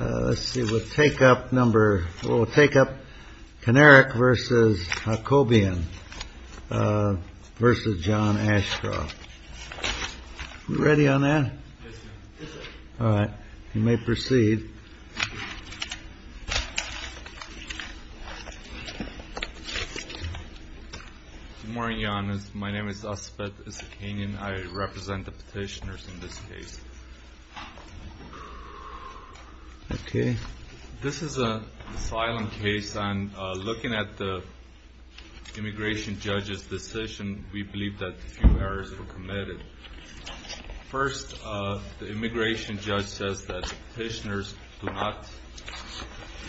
Let's see. We'll take up number. We'll take up Kinnerick versus Kobyan versus John Ashcroft. Ready on that. All right. You may proceed. Good morning, Janice. My name is Asif Isikanyan. I represent the petitioners in this case. Okay. This is an asylum case, and looking at the immigration judge's decision, we believe that a few errors were committed. First, the immigration judge says that the petitioners do not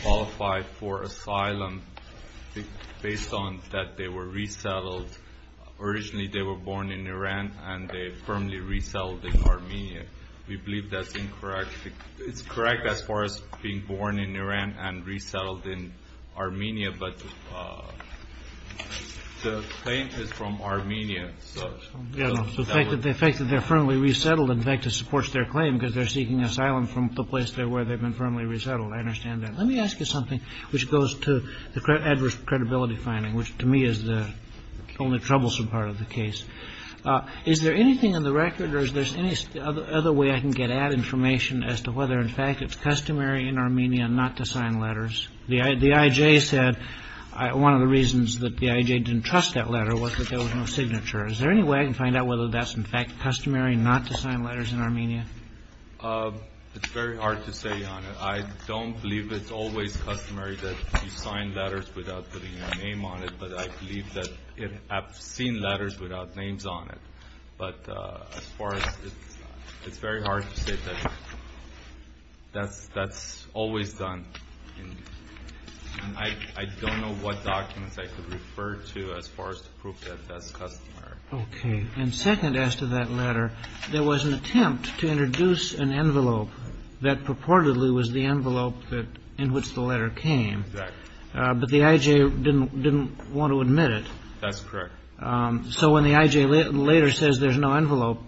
qualify for asylum based on that they were resettled Originally, they were born in Iran, and they firmly resettled in Armenia. We believe that's incorrect. It's correct as far as being born in Iran and resettled in Armenia. But the claim is from Armenia. The fact that they're firmly resettled, in fact, supports their claim because they're seeking asylum from the place where they've been firmly resettled. I understand that. Let me ask you something which goes to the adverse credibility finding, which to me is the only troublesome part of the case. Is there anything on the record? Or is there any other way I can get at information as to whether, in fact, it's customary in Armenia not to sign letters? The IJ said one of the reasons that the IJ didn't trust that letter was that there was no signature. Is there any way I can find out whether that's in fact customary not to sign letters in Armenia? It's very hard to say, Your Honor. I don't believe it's always customary that you sign letters without putting your name on it. But I believe that I've seen letters without names on it. But as far as it's very hard to say that that's always done. And I don't know what documents I could refer to as far as to prove that that's customary. OK. And second, as to that letter, there was an attempt to introduce an envelope that purportedly was the envelope in which the letter came. But the IJ didn't want to admit it. That's correct. So when the IJ later says there's no envelope,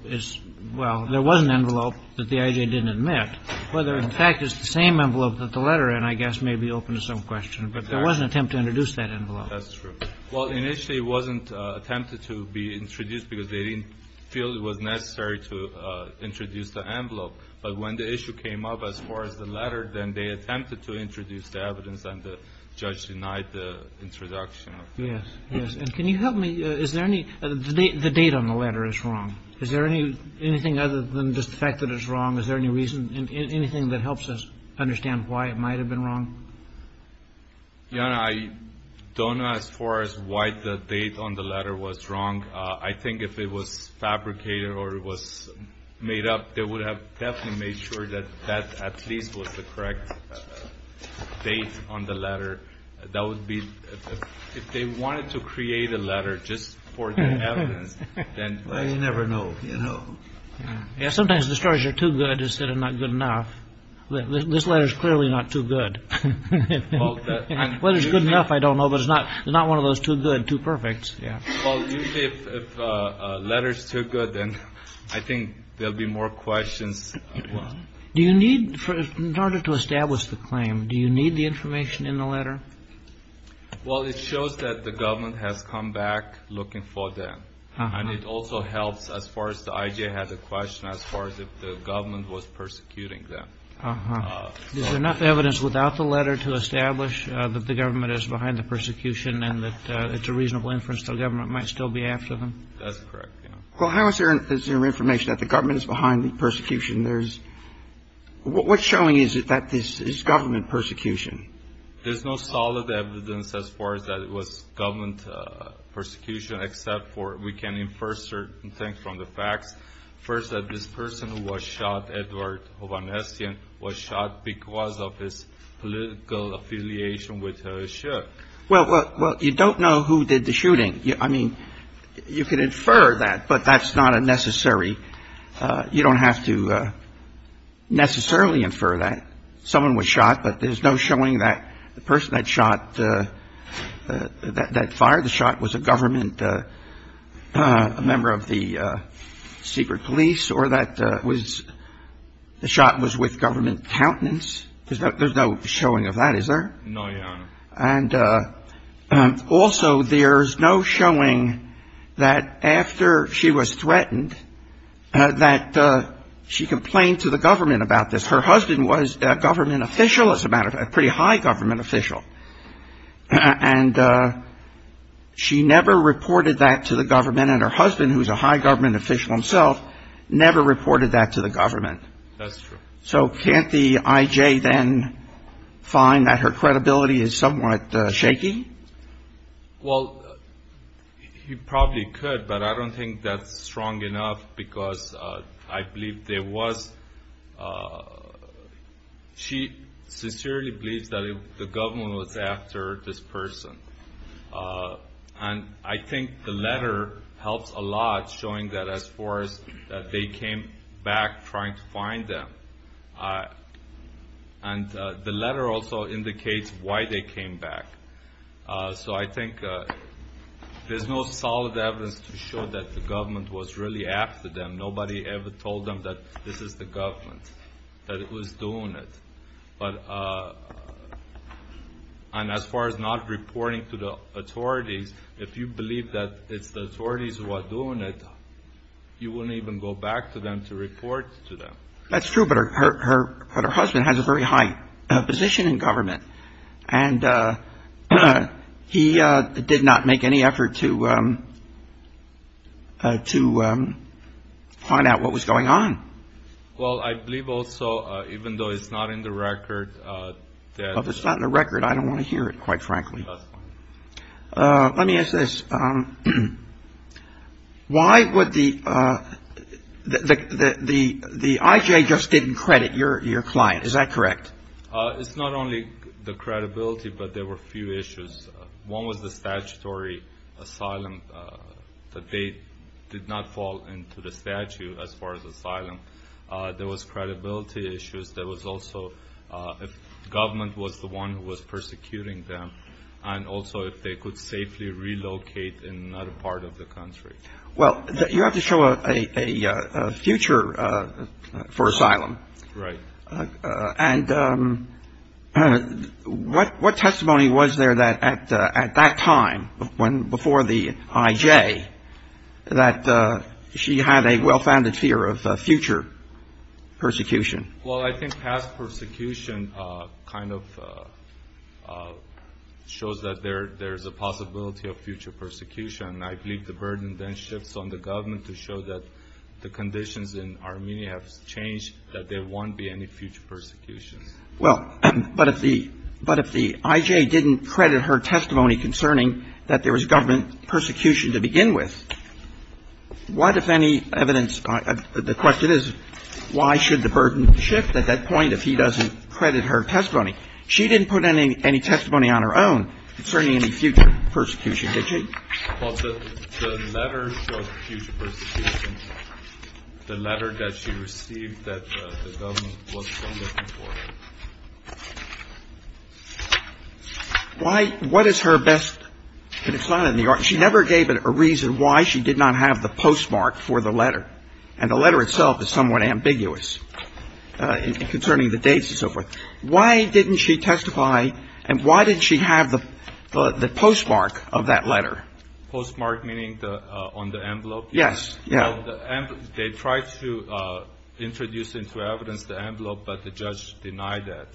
well, there was an envelope that the IJ didn't admit. Whether, in fact, it's the same envelope that the letter in, I guess, may be open to some question. But there was an attempt to introduce that envelope. That's true. Well, initially it wasn't attempted to be introduced because they didn't feel it was necessary to introduce the envelope. But when the issue came up as far as the letter, then they attempted to introduce the evidence and the judge denied the introduction. Yes. Yes. And can you help me? Is there any the date on the letter is wrong? Is there any anything other than just the fact that it's wrong? Is there any reason, anything that helps us understand why it might have been wrong? Your Honor, I don't know as far as why the date on the letter was wrong. I think if it was fabricated or it was made up, they would have definitely made sure that that at least was the correct date on the letter. That would be if they wanted to create a letter just for the evidence. Then you never know. You know, sometimes the stories are too good instead of not good enough. This letter is clearly not too good. Well, it's good enough. I don't know. But it's not not one of those too good, too perfect. Yeah. Well, if a letter is too good, then I think there'll be more questions. Do you need in order to establish the claim? Do you need the information in the letter? Well, it shows that the government has come back looking for them. And it also helps as far as the I.J. had a question as far as if the government was persecuting them. Is there enough evidence without the letter to establish that the government is behind the persecution and that it's a reasonable inference the government might still be after them? That's correct. Well, how is there information that the government is behind the persecution? There's what's showing is that this is government persecution. There's no solid evidence as far as that it was government persecution, except for we can infer certain things from the facts. First, that this person who was shot, Edward Hovhannessian, was shot because of his political affiliation with the ship. Well, you don't know who did the shooting. I mean, you can infer that, but that's not a necessary. You don't have to necessarily infer that someone was shot. But there's no showing that the person that shot, that fired the shot was a government member of the secret police or that the shot was with government countenance. There's no showing of that, is there? No, Your Honor. And also there's no showing that after she was threatened that she complained to the government about this. Her husband was a government official, as a matter of fact, a pretty high government official. And she never reported that to the government. And her husband, who's a high government official himself, never reported that to the government. That's true. So can't the I.J. then find that her credibility is somewhat shaky? Well, he probably could, but I don't think that's strong enough because I believe there was... She sincerely believes that the government was after this person. And I think the letter helps a lot showing that as far as that they came back trying to find them. And the letter also indicates why they came back. So I think there's no solid evidence to show that the government was really after them. Nobody ever told them that this is the government, that it was doing it. And as far as not reporting to the authorities, if you believe that it's the authorities who are doing it, you wouldn't even go back to them to report to them. That's true, but her husband has a very high position in government. And he did not make any effort to find out what was going on. Well, I believe also, even though it's not in the record... Well, if it's not in the record, I don't want to hear it, quite frankly. Let me ask this. Why would the... The IJ just didn't credit your client, is that correct? It's not only the credibility, but there were a few issues. One was the statutory asylum, that they did not fall into the statute as far as asylum. There was credibility issues. There was also if government was the one who was persecuting them, and also if they could safely relocate in another part of the country. Well, you have to show a future for asylum. Right. And what testimony was there at that time, before the IJ, that she had a well-founded fear of future persecution? Well, I think past persecution kind of shows that there's a possibility of future persecution. I believe the burden then shifts on the government to show that the conditions in Armenia have changed, that there won't be any future persecution. Well, but if the IJ didn't credit her testimony concerning that there was government persecution to begin with, what if any evidence of the question is why should the burden shift at that point if he doesn't credit her testimony? She didn't put any testimony on her own concerning any future persecution, did she? Well, the letter showed future persecution. The letter that she received that the government was still looking for her. Why – what is her best – she never gave a reason why she did not have the postmark for the letter, and the letter itself is somewhat ambiguous concerning the dates and so forth. Why didn't she testify, and why did she have the postmark of that letter? Postmark meaning on the envelope? Yes. They tried to introduce into evidence the envelope, but the judge denied that.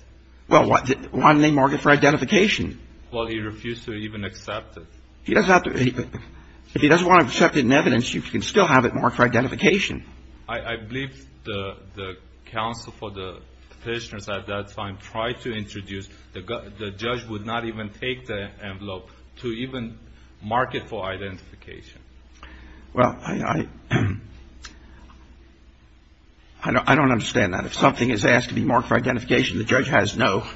Well, why didn't they mark it for identification? Well, he refused to even accept it. If he doesn't want to accept it in evidence, you can still have it marked for identification. I believe the counsel for the petitioners at that time tried to introduce – the judge would not even take the envelope to even mark it for identification. Well, I don't understand that. If something is asked to be marked for identification, the judge has no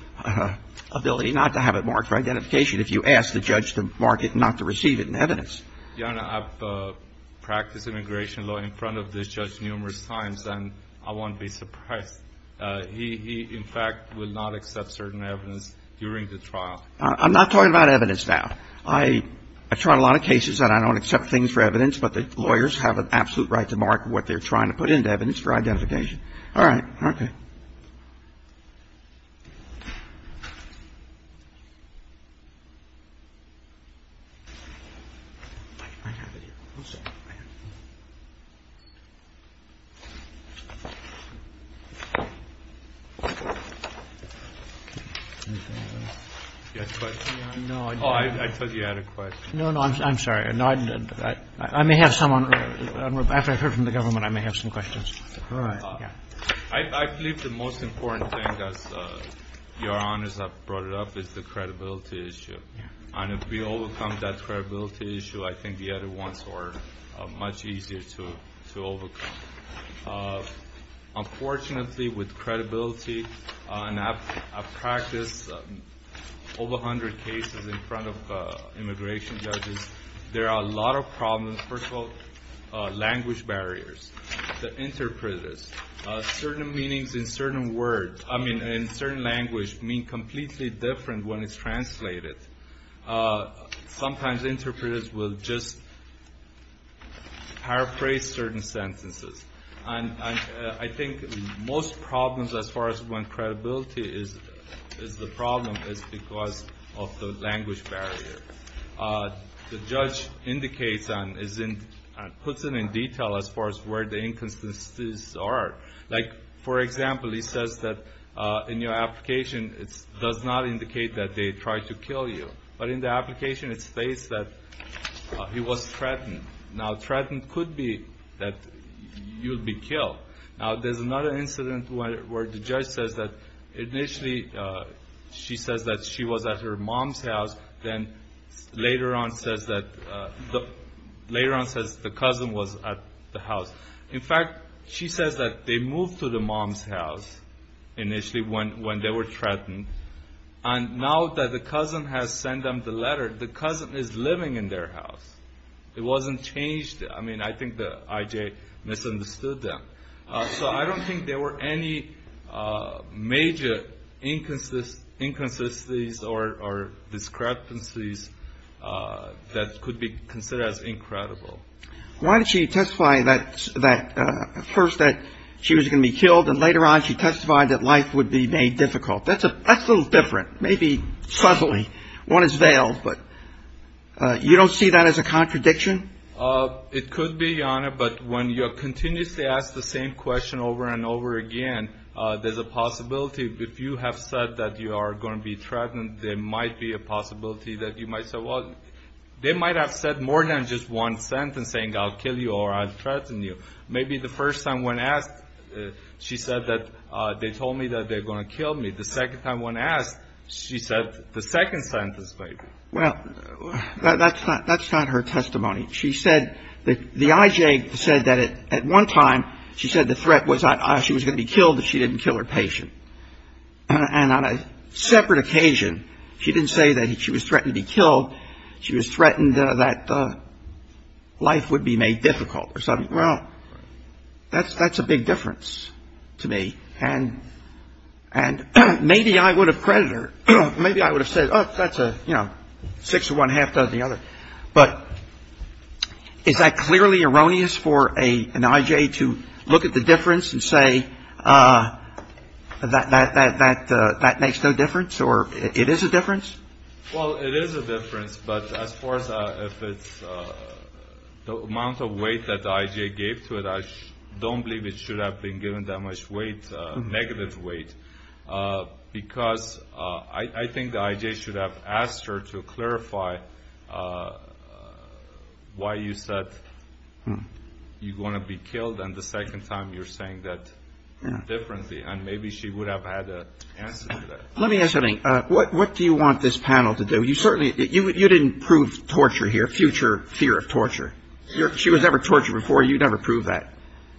ability not to have it marked for identification if you ask the judge to mark it and not to receive it in evidence. Your Honor, I've practiced immigration law in front of this judge numerous times, and I won't be surprised. He, in fact, will not accept certain evidence during the trial. I'm not talking about evidence now. I've tried a lot of cases, and I don't accept things for evidence, but the lawyers have an absolute right to mark what they're trying to put into evidence for identification. All right. Okay. I have it here. Oh, I thought you had a question. No, no. I'm sorry. I may have someone. After I've heard from the government, I may have some questions. All right. Well, I believe the most important thing, as Your Honors have brought it up, is the credibility issue. And if we overcome that credibility issue, I think the other ones are much easier to overcome. Unfortunately, with credibility, and I've practiced over 100 cases in front of immigration judges, there are a lot of problems. First of all, language barriers. The interpreters. Certain meanings in certain words, I mean, in certain language, mean completely different when it's translated. Sometimes interpreters will just paraphrase certain sentences. And I think most problems, as far as when credibility is the problem, is because of the language barrier. The judge indicates and puts it in detail as far as where the inconsistencies are. Like, for example, he says that in your application it does not indicate that they tried to kill you, but in the application it states that he was threatened. Now, threatened could be that you'll be killed. Now, there's another incident where the judge says that initially she says that she was at her mom's house, then later on says that the cousin was at the house. In fact, she says that they moved to the mom's house initially when they were threatened, and now that the cousin has sent them the letter, the cousin is living in their house. It wasn't changed. I mean, I think the IJ misunderstood them. So I don't think there were any major inconsistencies or discrepancies that could be considered as incredible. Why did she testify that first that she was going to be killed, and later on she testified that life would be made difficult? That's a little different, maybe subtly. One is veiled, but you don't see that as a contradiction? It could be, Your Honor, but when you continuously ask the same question over and over again, there's a possibility if you have said that you are going to be threatened, there might be a possibility that you might say, well, they might have said more than just one sentence saying I'll kill you or I'll threaten you. Maybe the first time when asked, she said that they told me that they're going to kill me. The second time when asked, she said the second sentence maybe. Well, that's not her testimony. She said that the IJ said that at one time she said the threat was she was going to be killed if she didn't kill her patient. And on a separate occasion, she didn't say that she was threatened to be killed. She was threatened that life would be made difficult or something. Well, that's a big difference to me. And maybe I would have credited her. Maybe I would have said, oh, that's a, you know, six of one half does the other. But is that clearly erroneous for an IJ to look at the difference and say that makes no difference or it is a difference? Well, it is a difference. But as far as if it's the amount of weight that the IJ gave to it, I don't believe it should have been given that much weight, negative weight. Because I think the IJ should have asked her to clarify why you said you're going to be killed, and the second time you're saying that differently. And maybe she would have had an answer to that. Let me ask something. What do you want this panel to do? You certainly, you didn't prove torture here, future fear of torture. She was never tortured before. You never proved that.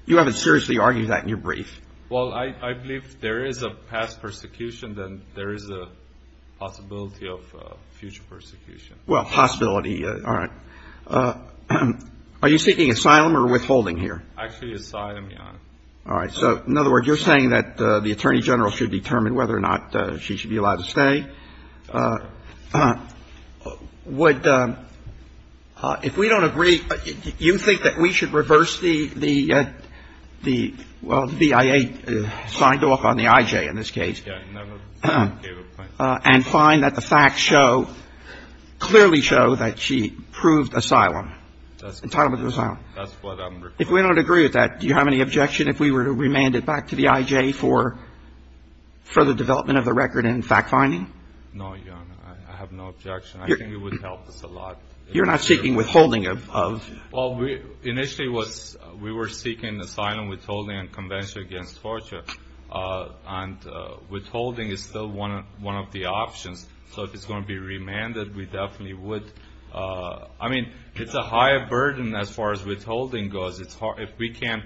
You haven't seriously argued that in your brief. Well, I believe if there is a past persecution, then there is a possibility of future persecution. Well, possibility. All right. Are you seeking asylum or withholding here? Actually, asylum, Your Honor. All right. So, in other words, you're saying that the Attorney General should determine whether or not she should be allowed to stay. Would, if we don't agree, you think that we should reverse the, well, the BIA signed off on the IJ in this case and find that the facts show, clearly show that she proved asylum, entitlement to asylum. That's what I'm requesting. If we don't agree with that, do you have any objection if we were to remand it back to the IJ for further development of the record in fact-finding? No, Your Honor. I have no objection. I think it would help us a lot. You're not seeking withholding of- Well, initially, we were seeking asylum, withholding, and convention against torture. And withholding is still one of the options. So, if it's going to be remanded, we definitely would. I mean, it's a higher burden as far as withholding goes. If we can't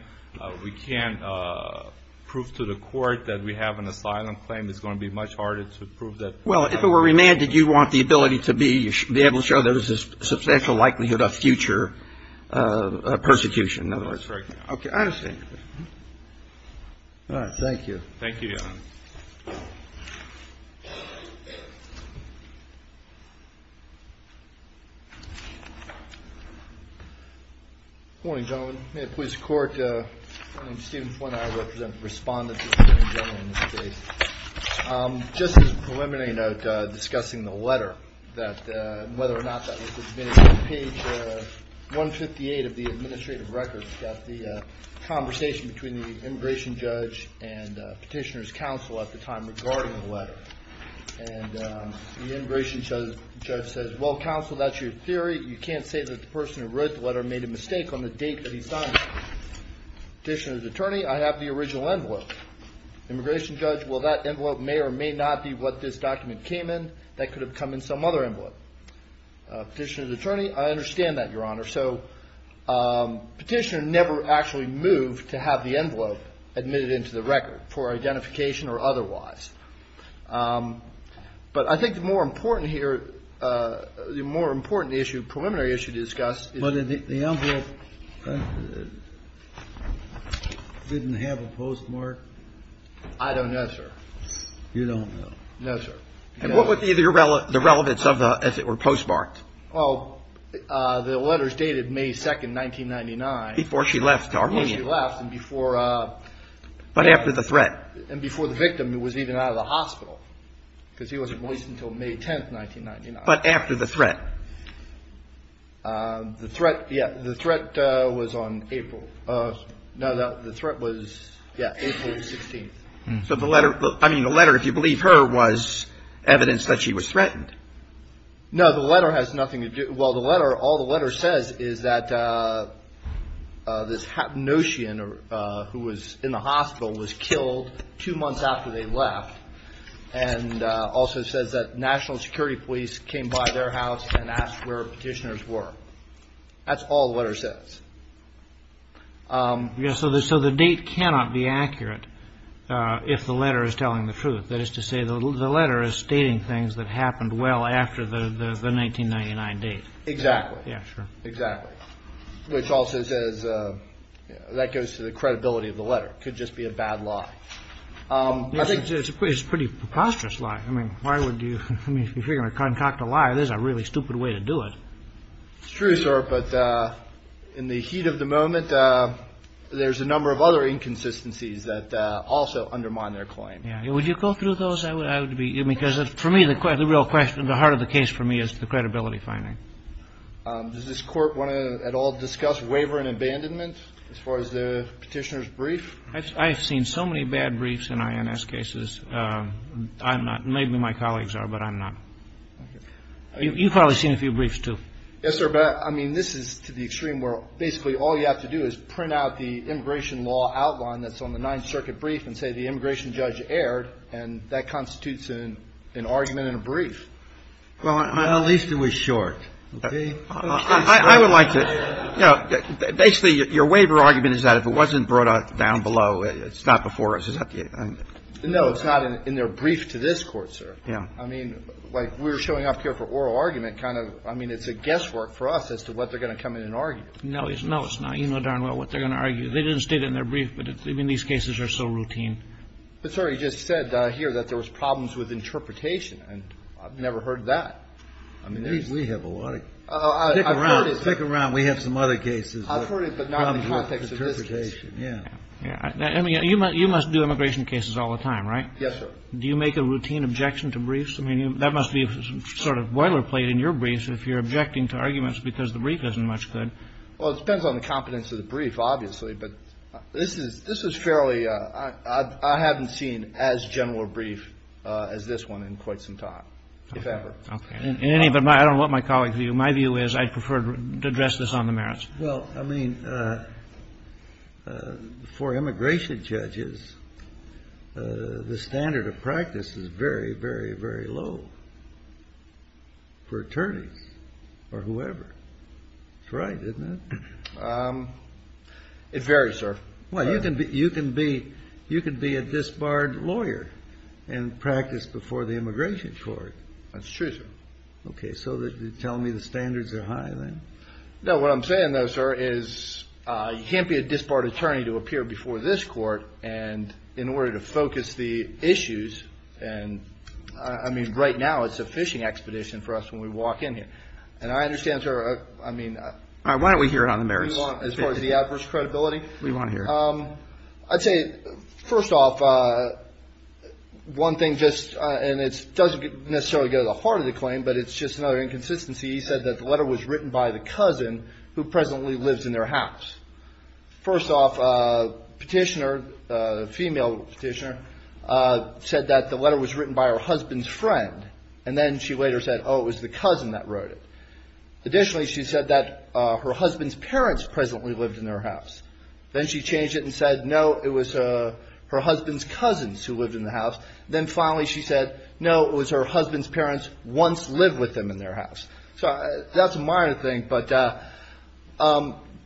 prove to the court that we have an asylum claim, it's going to be much harder to prove that- Well, if it were remanded, you want the ability to be able to show there's a substantial likelihood of future persecution. That's correct, Your Honor. Okay. I understand. Thank you. Thank you, Your Honor. Good morning, gentlemen. May it please the Court, my name is Stephen Flanagan. I represent the respondents in this case. Just as a preliminary note, discussing the letter, whether or not that was submitted, on page 158 of the administrative record, we've got the conversation between the immigration judge and petitioner's counsel at the time regarding the letter. And the immigration judge says, well, counsel, that's your theory. You can't say that the person who wrote the letter made a mistake on the date that he signed it. Petitioner's attorney, I have the original envelope. Immigration judge, well, that envelope may or may not be what this document came in. That could have come in some other envelope. Petitioner's attorney, I understand that, Your Honor. So petitioner never actually moved to have the envelope admitted into the record for identification or otherwise. But I think the more important here, the more important issue, preliminary issue to discuss is. But the envelope didn't have a postmark? I don't know, sir. You don't know? No, sir. And what would be the relevance of the, if it were postmarked? Well, the letters dated May 2nd, 1999. Before she left to Armenia. Before she left and before. But after the threat. And before the victim was even out of the hospital. Because he wasn't released until May 10th, 1999. But after the threat. The threat, yeah, the threat was on April. No, the threat was, yeah, April 16th. So the letter, I mean, the letter, if you believe her, was evidence that she was threatened. No, the letter has nothing to do. Well, the letter, all the letter says is that this Hapnoshian, who was in the hospital, was killed two months after they left. And also says that national security police came by their house and asked where petitioners were. That's all the letter says. So the date cannot be accurate if the letter is telling the truth. That is to say, the letter is stating things that happened well after the 1999 date. Exactly. Yeah, sure. Exactly. Which also says that goes to the credibility of the letter. Could just be a bad lie. I think it's a pretty preposterous lie. I mean, why would you, I mean, if you're going to concoct a lie, this is a really stupid way to do it. It's true, sir, but in the heat of the moment, there's a number of other inconsistencies that also undermine their claim. Would you go through those? I would be, because for me, the real question, the heart of the case for me is the credibility finding. Does this court want to at all discuss waiver and abandonment as far as the petitioner's brief? I've seen so many bad briefs in INS cases. I'm not, maybe my colleagues are, but I'm not. You've probably seen a few briefs, too. Yes, sir. But I mean, this is to the extreme where basically all you have to do is print out the immigration law outline that's on the 9th So you've got to do that. But it's true, I mean, I think the court doesn't care. And that constitutes an argument in a brief. Well, at least it was short. I would like to, you know, basically, your waiver argument is that if it wasn't brought up down below, it's not before us, is that it? No, it's not in their brief to this Court, sir. I mean, like we're showing up here for oral argument, kind of. I mean, it's a guesswork for us as to what they're going to come in and argue. No, it's not. You know darn well what they're going to argue. They didn't state it in their brief. But I mean, these cases are so routine. But, sir, you just said here that there was problems with interpretation. And I've never heard that. I mean, we have a lot. Stick around. Stick around. We have some other cases. I've heard it, but not in the context of this case. Yeah. I mean, you must do immigration cases all the time, right? Yes, sir. Do you make a routine objection to briefs? I mean, that must be sort of boilerplate in your briefs if you're objecting to arguments because the brief isn't much good. Well, it depends on the competence of the brief, obviously. But this is fairly – I haven't seen as general a brief as this one in quite some time, if ever. Okay. In any event, I don't want my colleagues to view it. My view is I'd prefer to address this on the merits. Well, I mean, for immigration judges, the standard of practice is very, very, very low for attorneys or whoever. That's right, isn't it? It varies, sir. Well, you can be a disbarred lawyer and practice before the immigration court. That's true, sir. Okay. So you're telling me the standards are high, then? No, what I'm saying, though, sir, is you can't be a disbarred attorney to appear before this court in order to focus the issues. And, I mean, right now it's a fishing expedition for us when we walk in here. And I understand, sir – I mean – All right, why don't we hear it on the merits? As far as the adverse credibility? What do you want to hear? I'd say, first off, one thing just – and it doesn't necessarily go to the heart of the claim, but it's just another inconsistency. She said that the letter was written by the cousin who presently lives in their house. First off, a petitioner, a female petitioner, said that the letter was written by her husband's friend. And then she later said, oh, it was the cousin that wrote it. Additionally, she said that her husband's parents presently lived in their house. Then she changed it and said, no, it was her husband's cousins who lived in the house. Then finally she said, no, it was her husband's parents once lived with them in their house. So that's a minor thing, but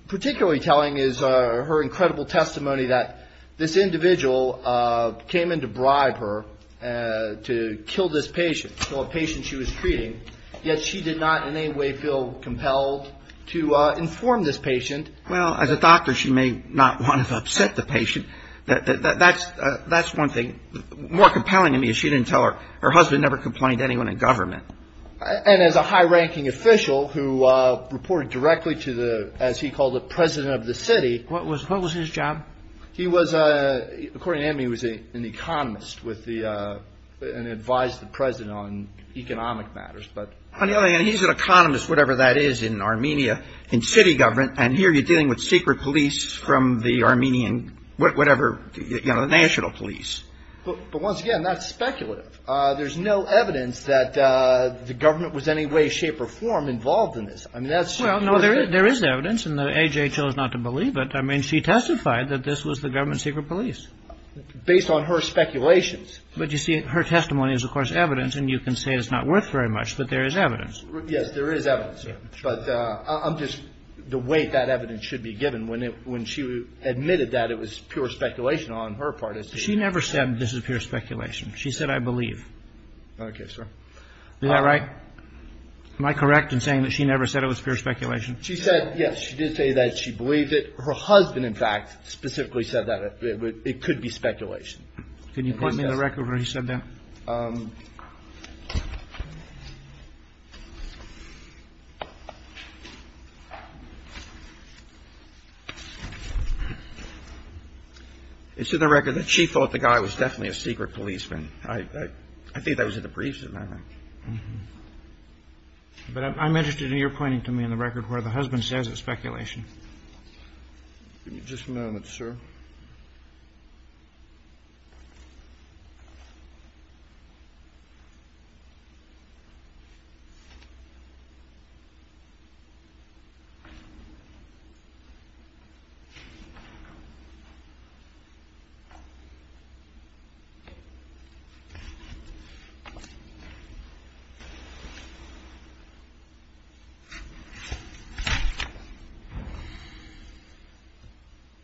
particularly telling is her incredible testimony that this individual came in to bribe her to kill this patient, the patient she was treating, yet she did not in any way feel compelled to inform this patient. Well, as a doctor, she may not want to upset the patient. That's one thing. More compelling to me is she didn't tell her. Her husband never complained to anyone in government. And as a high-ranking official who reported directly to the, as he called it, president of the city. What was his job? He was, according to him, he was an economist and advised the president on economic matters. On the other hand, he's an economist, whatever that is, in Armenia, in city government. And here you're dealing with secret police from the Armenian, whatever, you know, the national police. But once again, that's speculative. There's no evidence that the government was any way, shape or form involved in this. I mean, that's. Well, no, there is. There is evidence in the age. I chose not to believe it. I mean, she testified that this was the government secret police based on her speculations. But you see, her testimony is, of course, evidence. And you can say it's not worth very much. But there is evidence. Yes, there is evidence. But I'm just the way that evidence should be given when it when she admitted that it was pure speculation on her part. She never said this is pure speculation. She said, I believe. OK, sir. All right. Am I correct in saying that she never said it was pure speculation? She said, yes, she did say that she believed it. Her husband, in fact, specifically said that it could be speculation. Can you point me to the record where he said that? It's in the record that she thought the guy was definitely a secret policeman. I think that was in the briefs. But I'm interested in your pointing to me in the record where the husband says it's speculation. Just a moment, sir. Thank you. All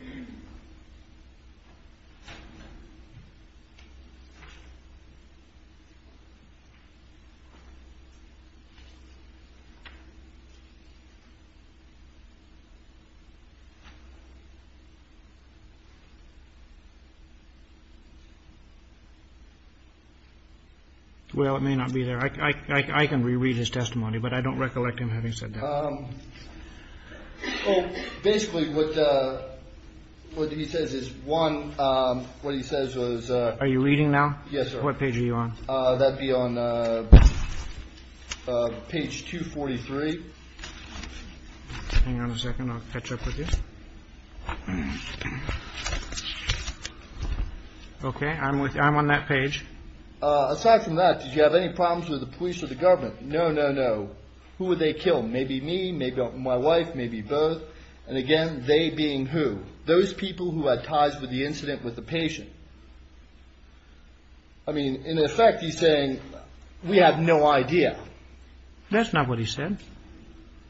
right. All right. Well, it may not be there. I can reread his testimony, but I don't recollect him having said that. Basically, what he says is one. What he says was, are you reading now? Yes. What page are you on? That'd be on page 243. Hang on a second. I'll catch up with you. OK, I'm with you. I'm on that page. Aside from that, did you have any problems with the police or the government? No, no, no. Who would they kill? Maybe me, maybe my wife, maybe both. And again, they being who? Those people who had ties with the incident with the patient. I mean, in effect, he's saying we have no idea. That's not what he said.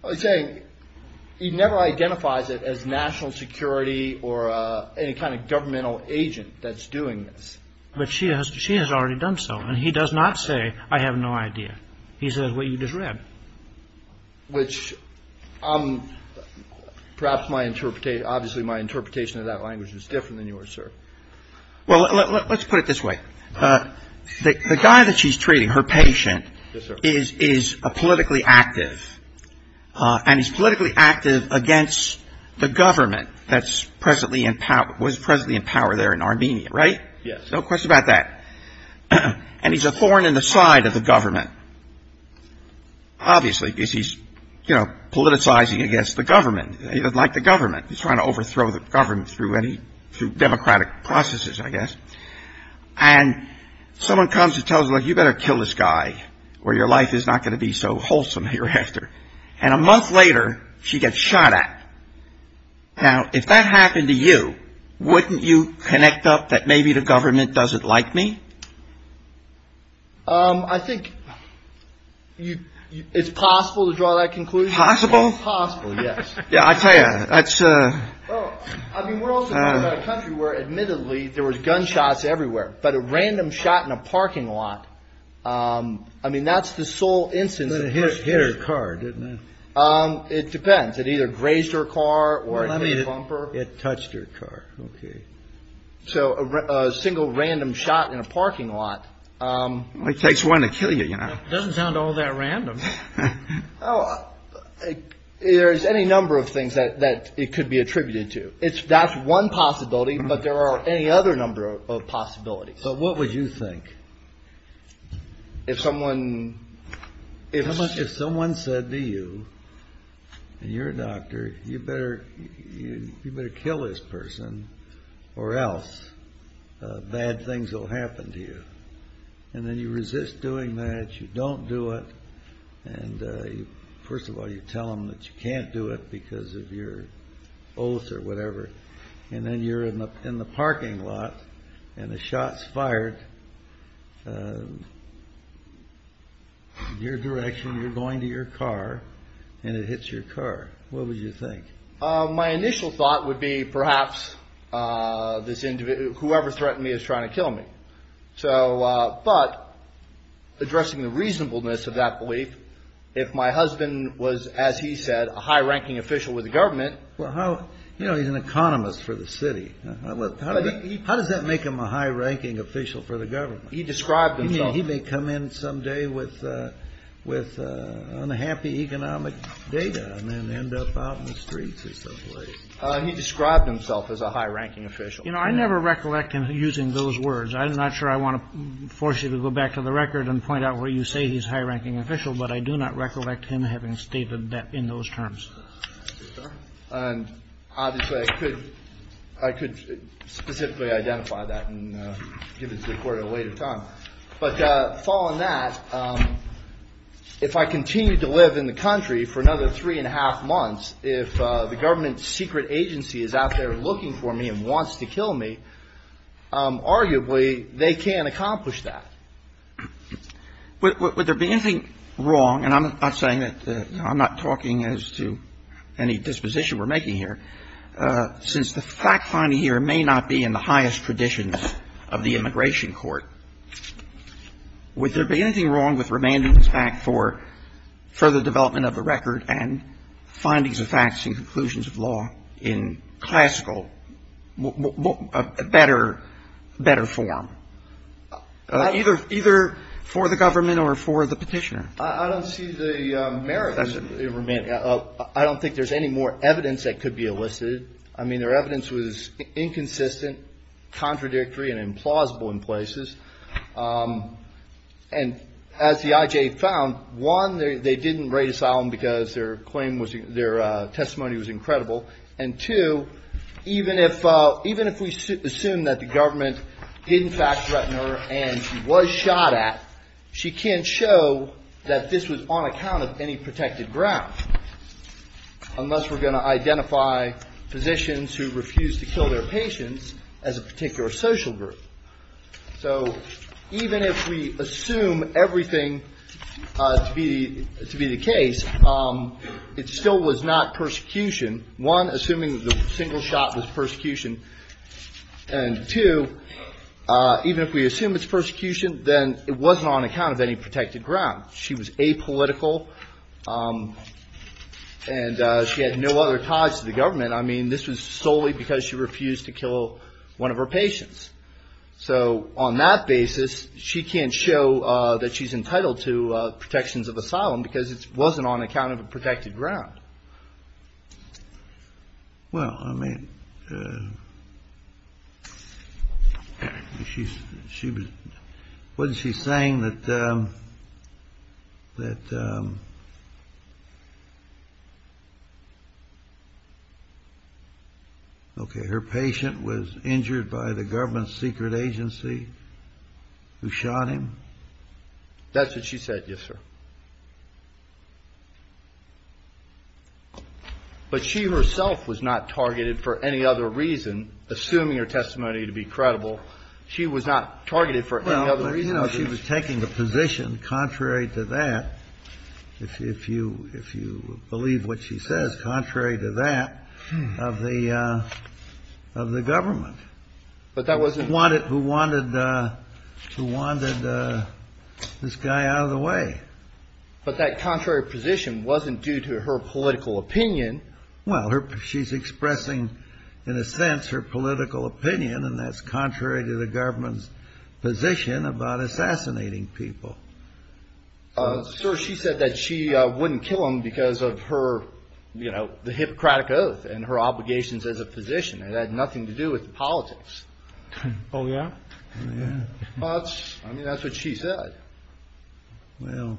He's saying he never identifies it as national security or any kind of governmental agent that's doing this. But she has already done so. And he does not say I have no idea. He says what you just read. Which perhaps my interpretation, obviously my interpretation of that language is different than yours, sir. Well, let's put it this way. The guy that she's treating, her patient, is politically active. And he's politically active against the government that was presently in power there in Armenia, right? Yes. No question about that. And he's a thorn in the side of the government. Obviously, because he's, you know, politicizing against the government. He doesn't like the government. He's trying to overthrow the government through democratic processes, I guess. And someone comes and tells her, like, you better kill this guy or your life is not going to be so wholesome hereafter. And a month later, she gets shot at. Now, if that happened to you, wouldn't you connect up that maybe the government doesn't like me? I think it's possible to draw that conclusion. Possible? Possible, yes. Yeah, I tell you, that's. I mean, we're also talking about a country where, admittedly, there was gunshots everywhere, but a random shot in a parking lot. I mean, that's the sole instance. It hit her car, didn't it? It depends. It either grazed her car or bumper. It touched her car. OK. So a single random shot in a parking lot. It takes one to kill you. You know, it doesn't sound all that random. There is any number of things that it could be attributed to. It's that's one possibility. But there are any other number of possibilities. So what would you think? If someone. If someone said to you, and you're a doctor, you better kill this person or else bad things will happen to you. And then you resist doing that. You don't do it. And first of all, you tell them that you can't do it because of your oath or whatever. And then you're in the parking lot and the shot's fired in your direction. You're going to your car and it hits your car. What would you think? My initial thought would be perhaps this individual. Whoever threatened me is trying to kill me. So but addressing the reasonableness of that belief. If my husband was, as he said, a high ranking official with the government. Well, how you know, he's an economist for the city. How does that make him a high ranking official for the government? He described he may come in someday with with unhappy economic data and then end up on the streets. He described himself as a high ranking official. You know, I never recollect him using those words. I'm not sure I want to force you to go back to the record and point out where you say he's high ranking official. But I do not recollect him having stated that in those terms. And obviously I could I could specifically identify that and give it to the court at a later time. But following that, if I continue to live in the country for another three and a half months, if the government secret agency is out there looking for me and wants to kill me, arguably they can't accomplish that. Would there be anything wrong, and I'm not saying that I'm not talking as to any disposition we're making here, since the fact finding here may not be in the highest traditions of the immigration court, would there be anything wrong with remanding this back for further development of the record and findings of facts and conclusions of law in classical, better form? Either for the government or for the petitioner? I don't see the merit in remanding. I don't think there's any more evidence that could be elicited. I mean, their evidence was inconsistent, contradictory, and implausible in places. And as the IJ found, one, they didn't write asylum because their claim was their testimony was incredible. And two, even if we assume that the government did in fact threaten her and she was shot at, she can't show that this was on account of any protected ground, unless we're going to identify physicians who refused to kill their patients as a particular social group. So even if we assume everything to be the case, it still was not persecution. One, assuming the single shot was persecution. And two, even if we assume it's persecution, then it wasn't on account of any protected ground. She was apolitical and she had no other ties to the government. I mean, this was solely because she refused to kill one of her patients. So on that basis, she can't show that she's entitled to protections of asylum because it wasn't on account of a protected ground. Well, I mean, wasn't she saying that her patient was injured by the government's secret agency who shot him? That's what she said, yes, sir. But she herself was not targeted for any other reason, assuming her testimony to be credible. She was not targeted for any other reason. Well, you know, she was taking the position, contrary to that, if you believe what she says, contrary to that, of the government. Who wanted this guy out of the way. But that contrary position wasn't due to her political opinion. Well, she's expressing, in a sense, her political opinion, and that's contrary to the government's position about assassinating people. Sir, she said that she wouldn't kill him because of her, you know, the Hippocratic oath and her obligations as a physician. It had nothing to do with politics. Oh, yeah? Well, I mean, that's what she said. Well.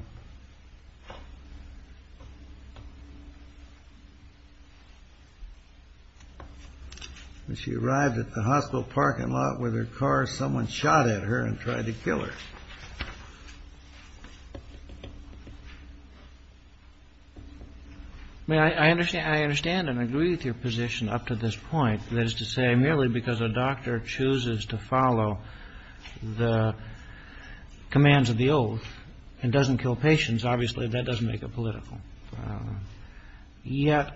When she arrived at the hospital parking lot with her car, someone shot at her and tried to kill her. I mean, I understand and agree with your position up to this point. That is to say, merely because a doctor chooses to follow the commands of the oath and doesn't kill patients, obviously, that doesn't make it political. Yet,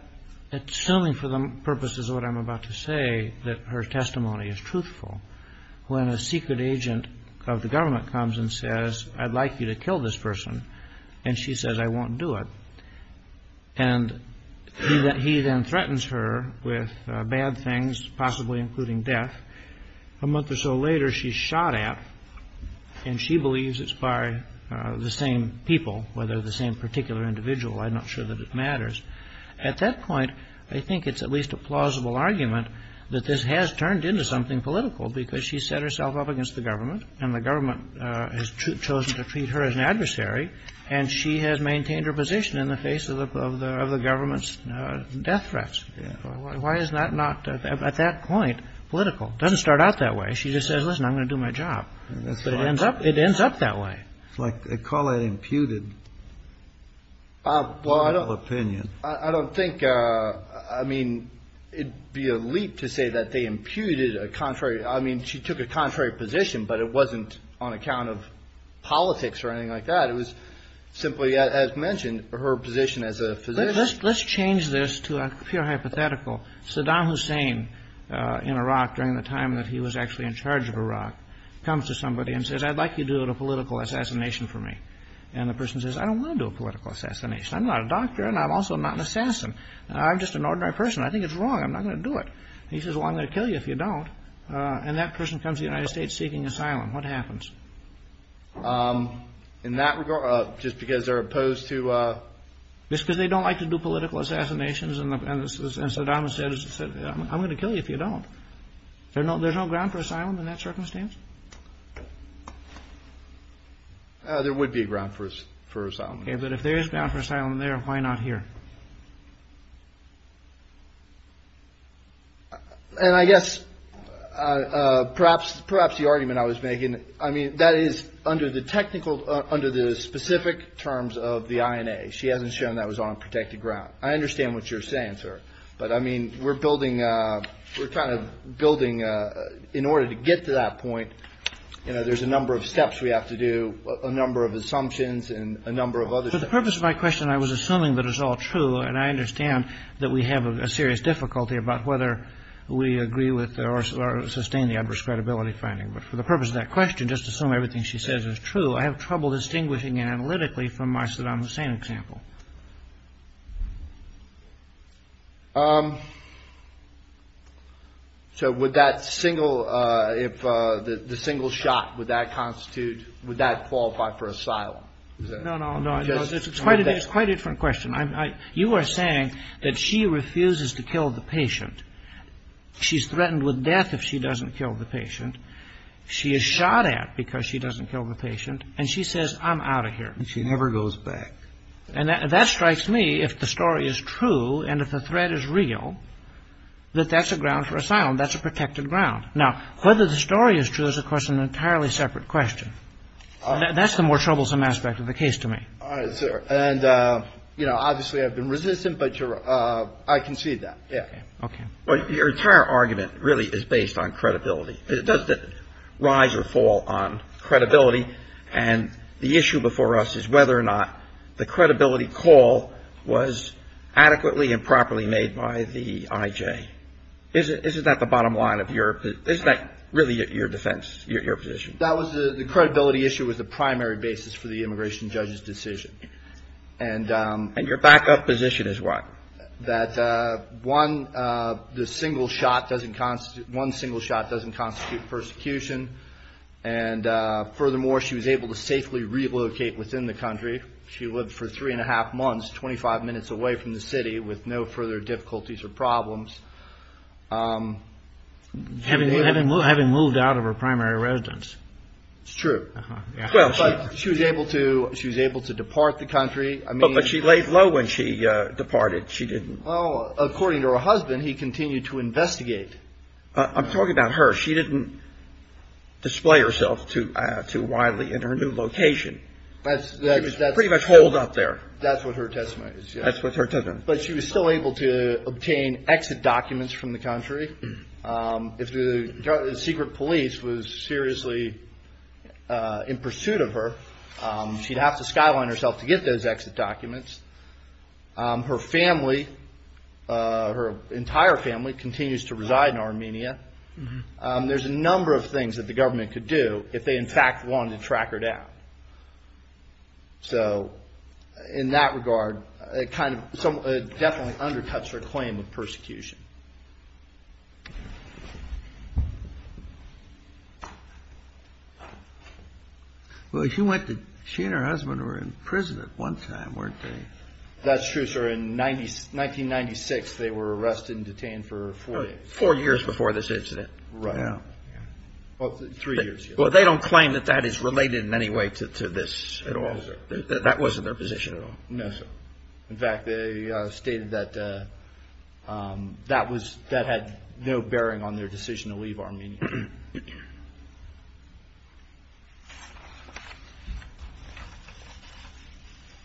assuming for the purposes of what I'm about to say, that her testimony is truthful, when a secret agent of the government comes and says, I'd like you to kill this person, and she says, I won't do it. And he then threatens her with bad things, possibly including death. A month or so later, she's shot at, and she believes it's by the same people, whether the same particular individual. At that point, I think it's at least a plausible argument that this has turned into something political, because she set herself up against the government, and the government has chosen to treat her as an adversary, and she has maintained her position in the face of the government's death threats. Why is that not, at that point, political? It doesn't start out that way. She just says, listen, I'm going to do my job. But it ends up that way. It's like they call that imputed. Well, I don't think, I mean, it'd be a leap to say that they imputed a contrary. I mean, she took a contrary position, but it wasn't on account of politics or anything like that. It was simply, as mentioned, her position as a physician. Let's change this to a pure hypothetical. Saddam Hussein, in Iraq, during the time that he was actually in charge of Iraq, comes to somebody and says, I'd like you to do a political assassination for me. And the person says, I don't want to do a political assassination. I'm not a doctor, and I'm also not an assassin. I'm just an ordinary person. I think it's wrong. I'm not going to do it. And he says, well, I'm going to kill you if you don't. And that person comes to the United States seeking asylum. What happens? In that regard, just because they're opposed to? Just because they don't like to do political assassinations, and Saddam said, I'm going to kill you if you don't. There's no ground for asylum in that circumstance? There would be a ground for asylum. But if there is ground for asylum there, why not here? And I guess perhaps the argument I was making, I mean, that is under the technical, under the specific terms of the INA. She hasn't shown that was on protected ground. I understand what you're saying, sir. But, I mean, we're building, we're kind of building in order to get to that point. You know, there's a number of steps we have to do, a number of assumptions and a number of others. For the purpose of my question, I was assuming that it's all true. And I understand that we have a serious difficulty about whether we agree with or sustain the adverse credibility finding. But for the purpose of that question, just assume everything she says is true. I have trouble distinguishing analytically from my Saddam Hussein example. So would that single, if the single shot, would that constitute, would that qualify for asylum? No, no, no. It's quite a different question. You are saying that she refuses to kill the patient. She's threatened with death if she doesn't kill the patient. She is shot at because she doesn't kill the patient. And she says, I'm out of here. And she never goes back. And that strikes me, if the story is true and if the threat is real, that that's a ground for asylum. That's a protected ground. Now, whether the story is true is, of course, an entirely separate question. That's the more troublesome aspect of the case to me. All right, sir. And, you know, obviously I've been resistant, but I concede that. Okay. Well, your entire argument really is based on credibility. Does it rise or fall on credibility? And the issue before us is whether or not the credibility call was adequately and properly made by the I.J. Isn't that the bottom line of your, isn't that really your defense, your position? That was the credibility issue was the primary basis for the immigration judge's decision. And your backup position is what? That one, the single shot doesn't constitute, one single shot doesn't constitute persecution. And furthermore, she was able to safely relocate within the country. She lived for three and a half months, 25 minutes away from the city with no further difficulties or problems. Having moved out of her primary residence. It's true. Well, she was able to, she was able to depart the country. But she laid low when she departed. She didn't. Well, according to her husband, he continued to investigate. I'm talking about her. She didn't display herself to too widely in her new location. That's pretty much holed up there. That's what her testimony is. That's what her testimony is. But she was still able to obtain exit documents from the country. If the secret police was seriously in pursuit of her, she'd have to skyline herself to get those exit documents. Her family, her entire family continues to reside in Armenia. There's a number of things that the government could do if they, in fact, wanted to track her down. So in that regard, it kind of definitely undercuts her claim of persecution. Well, she went to, she and her husband were in prison at one time, weren't they? That's true, sir. In 1996, they were arrested and detained for four days. Four years before this incident. Right. Yeah. Well, three years. Well, they don't claim that that is related in any way to this at all. That wasn't their position at all. No, sir. In fact, they stated that that had no bearing on their decision to leave Armenia.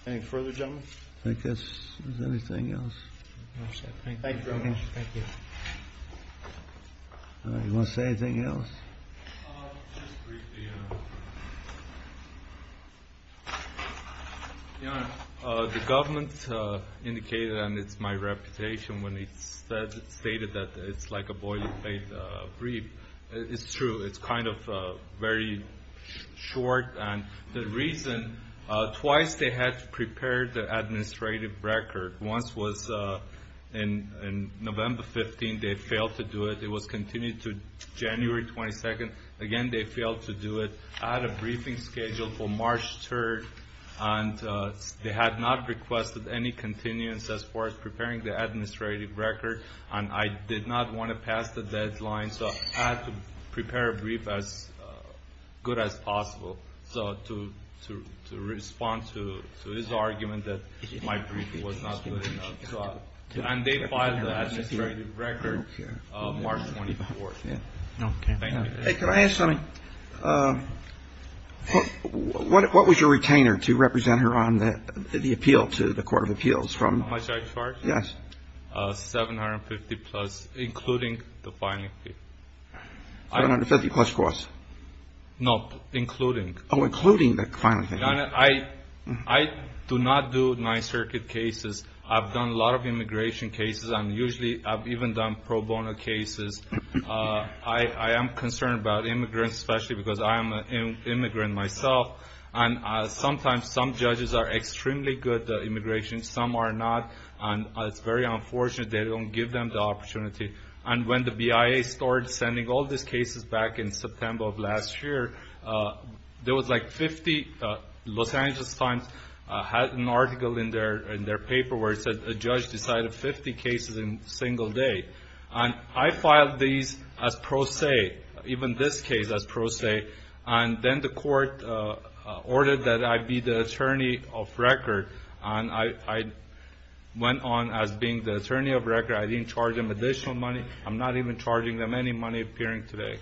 Any further, gentlemen? I guess. Is there anything else? No, sir. Thank you very much. Thank you. All right. You want to say anything else? Just briefly. The government indicated, and it's my reputation when it's stated that it's like a boiling plate brief. It's true. It's kind of very short. And the reason, twice they had to prepare the administrative record. Once was in November 15. They failed to do it. It was continued to January 22. Again, they failed to do it. I had a briefing scheduled for March 3, and they had not requested any continuance as far as preparing the administrative record. And I did not want to pass the deadline, so I had to prepare a brief as good as possible to respond to his argument that my briefing was not good enough. And they filed the administrative record. March 24. Okay. Thank you. Hey, can I ask something? What was your retainer to represent her on the appeal to the Court of Appeals from? My judge charge? Yes. $750 plus, including the filing fee. $750 plus cost? No, including. Oh, including the filing fee. I do not do Ninth Circuit cases. I've done a lot of immigration cases. I've even done pro bono cases. I am concerned about immigrants, especially because I am an immigrant myself. And sometimes some judges are extremely good at immigration. Some are not. And it's very unfortunate they don't give them the opportunity. And when the BIA started sending all these cases back in September of last year, there was like 50 Los Angeles Times had an article in their paper where it said a judge decided 50 cases in a single day. And I filed these as pro se, even this case as pro se. And then the court ordered that I be the attorney of record. And I went on as being the attorney of record. I didn't charge them additional money. I'm not even charging them any money appearing today.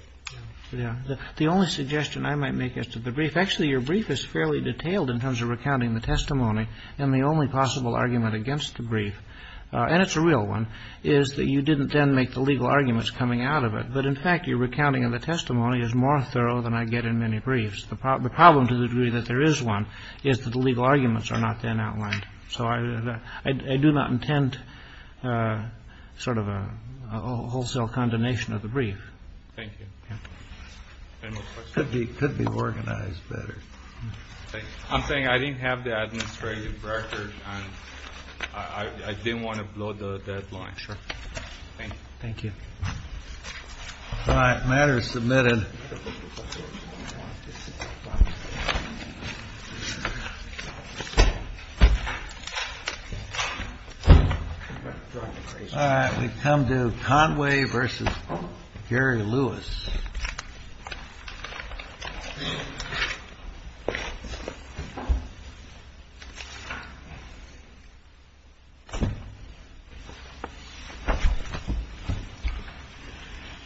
The only suggestion I might make is to the brief. Actually, your brief is fairly detailed in terms of recounting the testimony. And the only possible argument against the brief, and it's a real one, is that you didn't then make the legal arguments coming out of it. But, in fact, your recounting of the testimony is more thorough than I get in many briefs. The problem, to the degree that there is one, is that the legal arguments are not then outlined. So I do not intend sort of a wholesale condemnation of the brief. Thank you. Any more questions? It could be organized better. I'm saying I didn't have the administrative record, and I didn't want to blow the deadline. Sure. Thank you. Thank you. All right. Matter is submitted. All right. We come to Conway v. Gary Lewis.